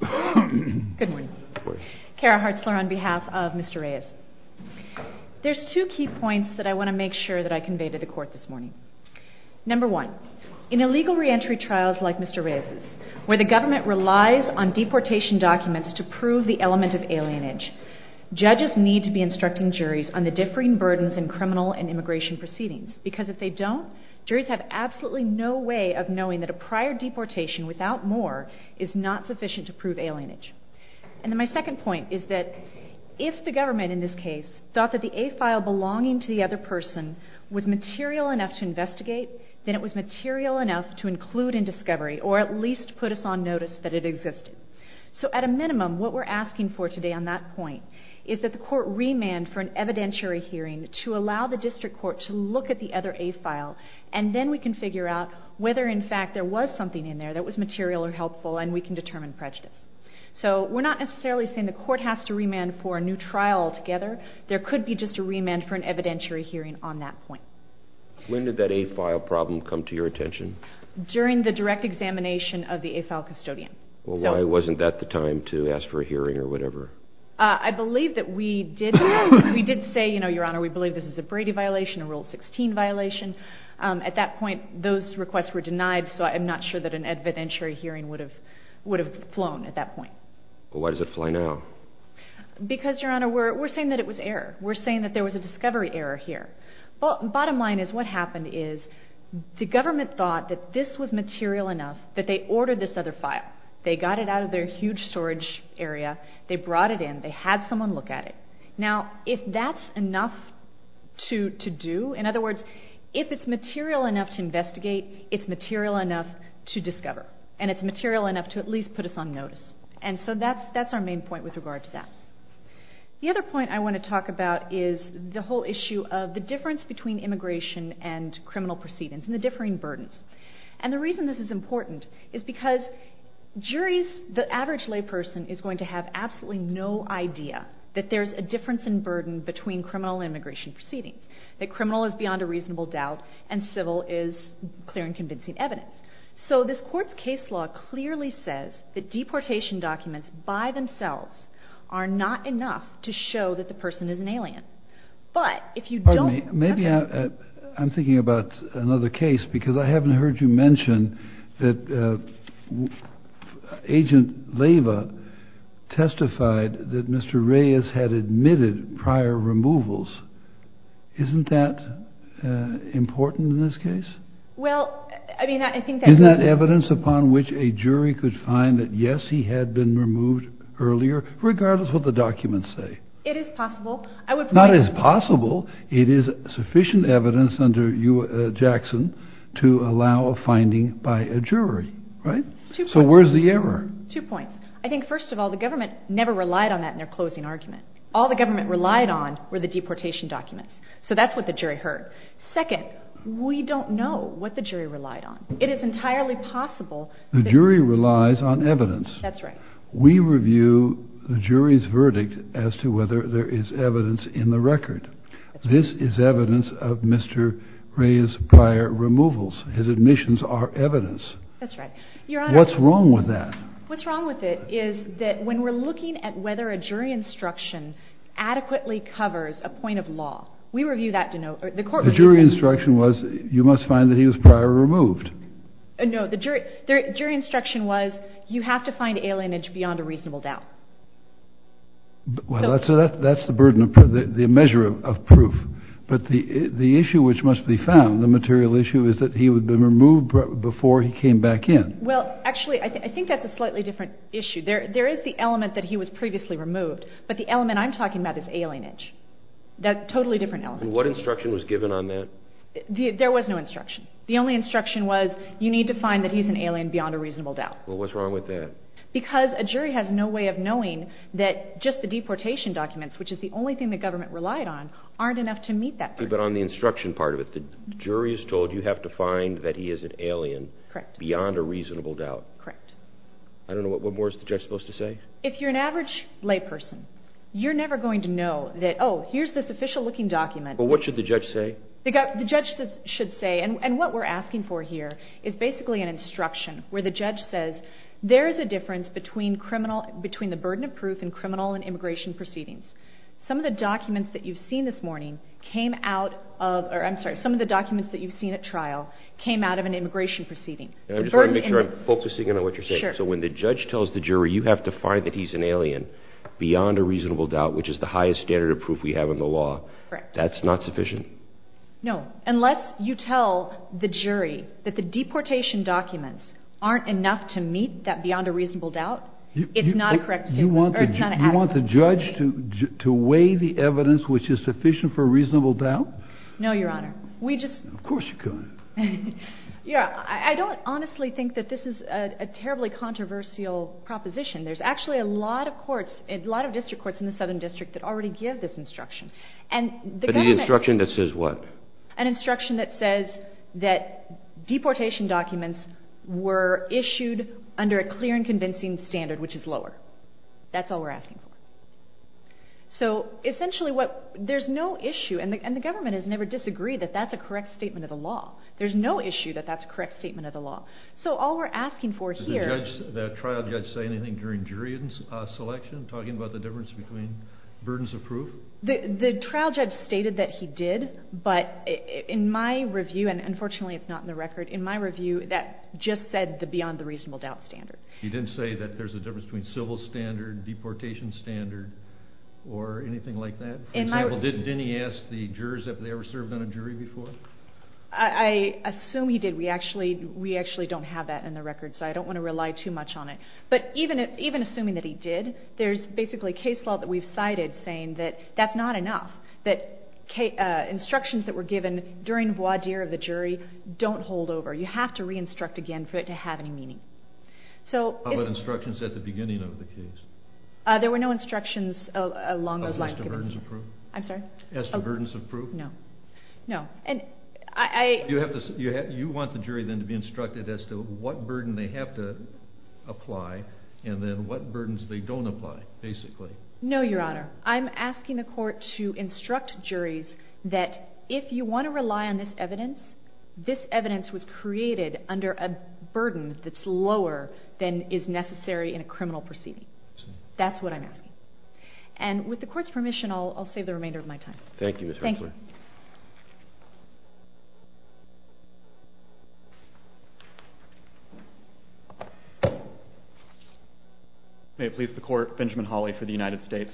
Good morning. Kara Hartzler on behalf of Mr. Reyes. There's two key points that I want to make sure that I conveyed to the court this morning. Number one, in illegal reentry trials like Mr. Reyes', where the government relies on deportation documents to prove the element of alienage, judges need to be instructing juries on the differing burdens in criminal and immigration proceedings. Because if they don't, juries have absolutely no way of knowing that a prior deportation without more is not sufficient to prove alienage. And then my second point is that if the government in this case thought that the A-file belonging to the other person was material enough to investigate, then it was material enough to include in discovery or at least put us on notice that it existed. So at a minimum, what we're asking for today on that point is that the court remand for an evidentiary hearing to allow the district court to look at the other A-file and then we can figure out whether in fact there was something in there that was material or helpful and we can determine prejudice. So we're not necessarily saying the court has to remand for a new trial altogether. There could be just a remand for an evidentiary hearing on that point. When did that A-file problem come to your attention? During the direct examination of the A-file custodian. Well, why wasn't that the time to ask for a hearing or whatever? I believe that we did say, Your Honor, we believe this is a Brady violation, a Rule 16 violation. At that point, those requests were denied, so I'm not sure that an evidentiary hearing would have flown at that point. Well, why does it fly now? Because, Your Honor, we're saying that it was error. We're saying that there was a discovery error here. Bottom line is what happened is the government thought that this was material enough that they ordered this other file. They got it out of their huge storage area. They brought it in. They had someone look at it. Now, if that's enough to do, in other words, if it's material enough to investigate, it's material enough to discover, and it's material enough to at least put us on notice. And so that's our main point with regard to that. The other point I want to talk about is the whole issue of the difference between immigration and criminal proceedings and the differing burdens. And the reason this is important is because the average layperson is going to have absolutely no idea that there's a difference in burden between criminal and immigration proceedings, that criminal is beyond a reasonable doubt and civil is clear and convincing evidence. So this court's case law clearly says that deportation documents by themselves are not enough to show that the person is an alien. But if you don't maybe I'm thinking about another case because I haven't heard you mention that Agent Lava testified that Mr. Reyes had admitted prior removals. Isn't that important in this case? Well, I mean, I think that is not evidence upon which a jury could find that. Yes, he had been removed earlier, regardless what the documents say. It is possible. Not as possible. It is sufficient evidence under Jackson to allow a finding by a jury, right? So where's the error? Two points. I think, first of all, the government never relied on that in their closing argument. All the government relied on were the deportation documents. So that's what the jury heard. Second, we don't know what the jury relied on. It is entirely possible. The jury relies on evidence. That's right. We review the jury's verdict as to whether there is evidence in the record. This is evidence of Mr. Reyes' prior removals. His admissions are evidence. That's right. Your Honor. What's wrong with that? What's wrong with it is that when we're looking at whether a jury instruction adequately covers a point of law, we review that to know. The jury instruction was you must find that he was prior removed. No. The jury instruction was you have to find alienage beyond a reasonable doubt. Well, that's the burden of the measure of proof. But the issue which must be found, the material issue, is that he would have been removed before he came back in. Well, actually, I think that's a slightly different issue. There is the element that he was previously removed, but the element I'm talking about is alienage. That's a totally different element. And what instruction was given on that? There was no instruction. The only instruction was you need to find that he's an alien beyond a reasonable doubt. Well, what's wrong with that? Because a jury has no way of knowing that just the deportation documents, which is the only thing the government relied on, aren't enough to meet that burden. But on the instruction part of it, the jury is told you have to find that he is an alien beyond a reasonable doubt. Correct. I don't know. What more is the judge supposed to say? If you're an average layperson, you're never going to know that, oh, here's this official-looking document. But what should the judge say? The judge should say, and what we're asking for here is basically an instruction where the judge says there is a difference between the burden of proof and criminal and immigration proceedings. Some of the documents that you've seen this morning came out of – or I'm sorry, some of the documents that you've seen at trial came out of an immigration proceeding. I'm just trying to make sure I'm focusing on what you're saying. Sure. So when the judge tells the jury you have to find that he's an alien beyond a reasonable doubt, which is the highest standard of proof we have in the law. Correct. That's not sufficient? No. Unless you tell the jury that the deportation documents aren't enough to meet that beyond a reasonable doubt, it's not a correct – You want the judge to weigh the evidence which is sufficient for a reasonable doubt? No, Your Honor. We just – Of course you could. Yeah. I don't honestly think that this is a terribly controversial proposition. There's actually a lot of courts, a lot of district courts in the Southern District that already give this instruction. But the instruction that says what? An instruction that says that deportation documents were issued under a clear and convincing standard, which is lower. That's all we're asking for. So essentially what – there's no issue – and the government has never disagreed that that's a correct statement of the law. There's no issue that that's a correct statement of the law. So all we're asking for here – Did the trial judge say anything during jury selection, talking about the difference between burdens of proof? The trial judge stated that he did, but in my review – and unfortunately it's not in the record – in my review, that just said the beyond the reasonable doubt standard. He didn't say that there's a difference between civil standard, deportation standard, or anything like that? For example, didn't he ask the jurors if they ever served on a jury before? I assume he did. We actually don't have that in the record, so I don't want to rely too much on it. But even assuming that he did, there's basically case law that we've cited saying that that's not enough. That instructions that were given during voir dire of the jury don't hold over. You have to re-instruct again for it to have any meaning. How about instructions at the beginning of the case? There were no instructions along those lines. As to burdens of proof? I'm sorry? As to burdens of proof? No. You want the jury then to be instructed as to what burden they have to apply, and then what burdens they don't apply, basically? No, Your Honor. I'm asking the court to instruct juries that if you want to rely on this evidence, this evidence was created under a burden that's lower than is necessary in a criminal proceeding. That's what I'm asking. And with the court's permission, I'll save the remainder of my time. Thank you, Ms. Hurtler. Thank you. May it please the court, Benjamin Hawley for the United States.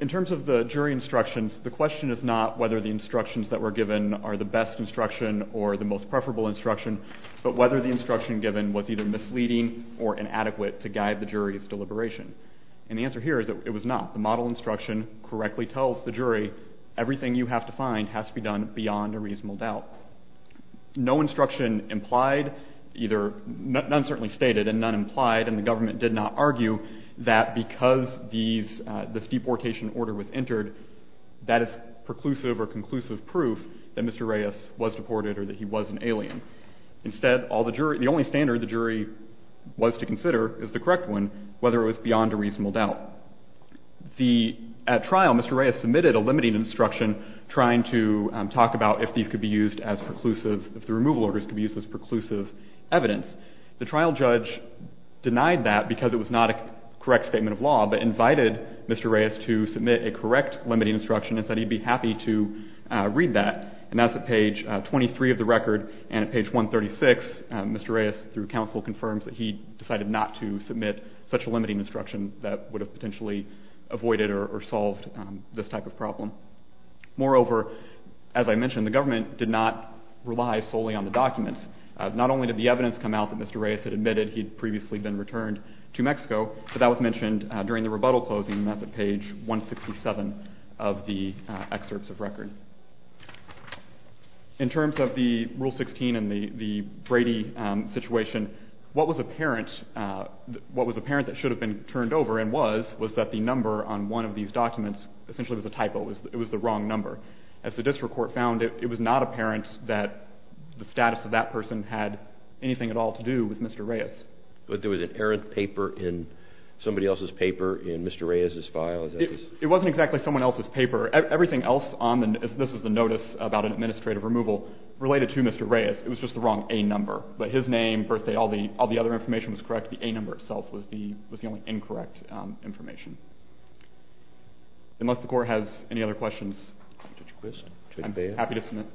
In terms of the jury instructions, the question is not whether the instructions that were given are the best instruction or the most preferable instruction, but whether the instruction given was either misleading or inadequate to guide the jury's deliberation. And the answer here is that it was not. The model instruction correctly tells the jury everything you have to find has to be done beyond a reasonable doubt. No instruction implied either, none certainly stated and none implied, and the government did not argue that because this deportation order was entered, that is preclusive or conclusive proof that Mr. Reyes was deported or that he was an alien. Instead, the only standard the jury was to consider is the correct one, whether it was beyond a reasonable doubt. At trial, Mr. Reyes submitted a limiting instruction trying to talk about if these could be used as preclusive, if the removal orders could be used as preclusive evidence. The trial judge denied that because it was not a correct statement of law, but invited Mr. Reyes to submit a correct limiting instruction and said he'd be happy to read that. And that's at page 23 of the record, and at page 136, Mr. Reyes, through counsel, confirms that he decided not to submit such a limiting instruction that would have potentially avoided or solved this type of problem. Moreover, as I mentioned, the government did not rely solely on the documents. Not only did the evidence come out that Mr. Reyes had admitted he'd previously been returned to Mexico, but that was mentioned during the rebuttal closing, and that's at page 167 of the excerpts of record. In terms of the Rule 16 and the Brady situation, what was apparent that should have been turned over and was, was that the number on one of these documents essentially was a typo. It was the wrong number. As the district court found, it was not apparent that the status of that person had anything at all to do with Mr. Reyes. But there was an errant paper in somebody else's paper in Mr. Reyes's file? It wasn't exactly someone else's paper. Everything else on this is the notice about an administrative removal related to Mr. Reyes. It was just the wrong A number. But his name, birthday, all the other information was correct. The A number itself was the only incorrect information. Unless the Court has any other questions, I'm happy to submit.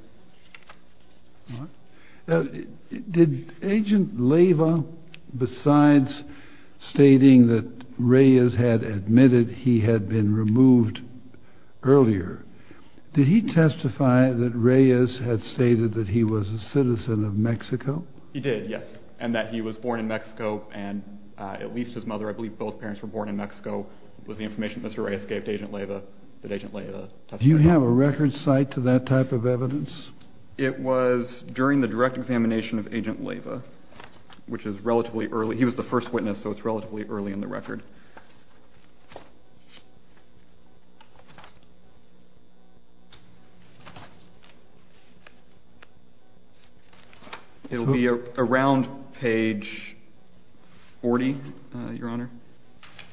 Now, did Agent Leyva, besides stating that Reyes had admitted he had been removed earlier, did he testify that Reyes had stated that he was a citizen of Mexico? He did, yes. And that he was born in Mexico, and at least his mother, I believe both parents were born in Mexico, was the information that Mr. Reyes gave to Agent Leyva, that Agent Leyva testified. Do you have a record cite to that type of evidence? It was during the direct examination of Agent Leyva, which is relatively early. He was the first witness, so it's relatively early in the record. It'll be around page 40, Your Honor.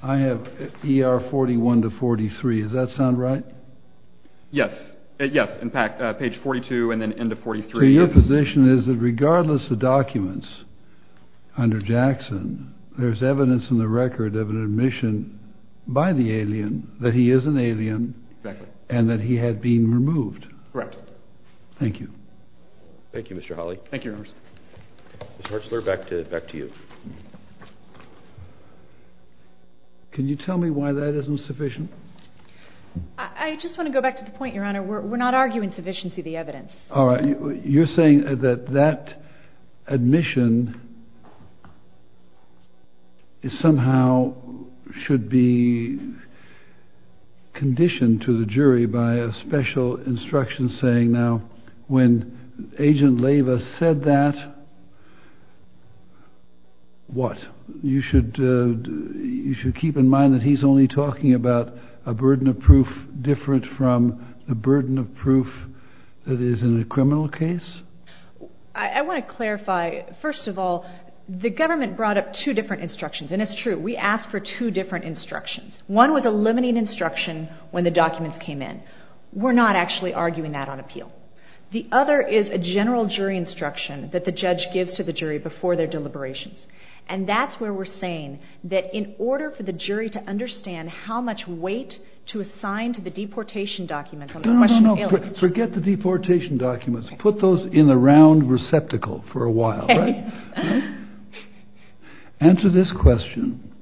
I have ER 41 to 43. Does that sound right? Yes. Yes. In fact, page 42 and then end of 43. So your position is that regardless of documents under Jackson, there's evidence in the record of an admission by the alien that he is an alien and that he had been removed? Correct. Thank you. Thank you, Mr. Hawley. Thank you, Your Honor. Mr. Hartzler, back to you. Can you tell me why that isn't sufficient? I just want to go back to the point, Your Honor. We're not arguing sufficiency of the evidence. All right. You're saying that that admission somehow should be conditioned to the jury by a special instruction saying, now, when Agent Leyva said that, what? You should keep in mind that he's only talking about a burden of proof different from the burden of proof that is in a criminal case? I want to clarify, first of all, the government brought up two different instructions, and it's true. We asked for two different instructions. One was a limiting instruction when the documents came in. We're not actually arguing that on appeal. The other is a general jury instruction that the judge gives to the jury before their deliberations, and that's where we're saying that in order for the jury to understand how much weight to assign to the deportation documents on the question of aliens. No, no, no. Forget the deportation documents. Okay. Answer this question.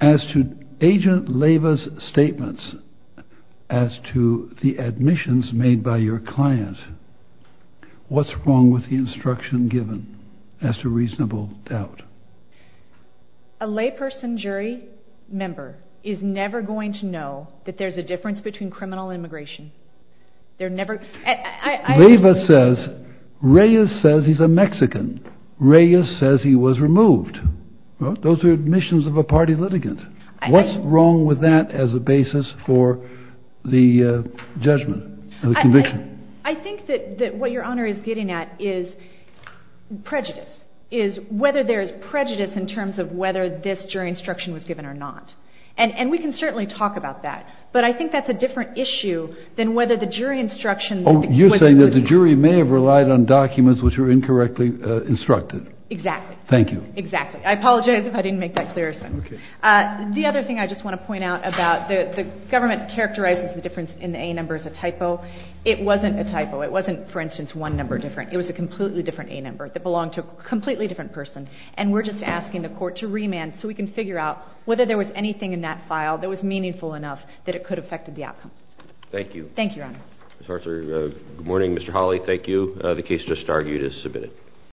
As to Agent Leyva's statements as to the admissions made by your client, what's wrong with the instruction given as to reasonable doubt? A layperson jury member is never going to know that there's a difference between criminal and immigration. Leyva says, Reyes says he's a Mexican. Reyes says he was removed. Those are admissions of a party litigant. What's wrong with that as a basis for the judgment, the conviction? I think that what Your Honor is getting at is prejudice, is whether there is prejudice in terms of whether this jury instruction was given or not. And we can certainly talk about that. But I think that's a different issue than whether the jury instruction was included. Oh, you're saying that the jury may have relied on documents which were incorrectly instructed. Exactly. Thank you. Exactly. I apologize if I didn't make that clear. Okay. The other thing I just want to point out about the government characterizes the difference in the A number as a typo. It wasn't a typo. It wasn't, for instance, one number different. It was a completely different A number that belonged to a completely different person. And we're just asking the court to remand so we can figure out whether there was anything in that file that was meaningful enough that it could have affected the outcome. Thank you. Thank you, Your Honor. Good morning, Mr. Hawley. Thank you. The case just argued is submitted.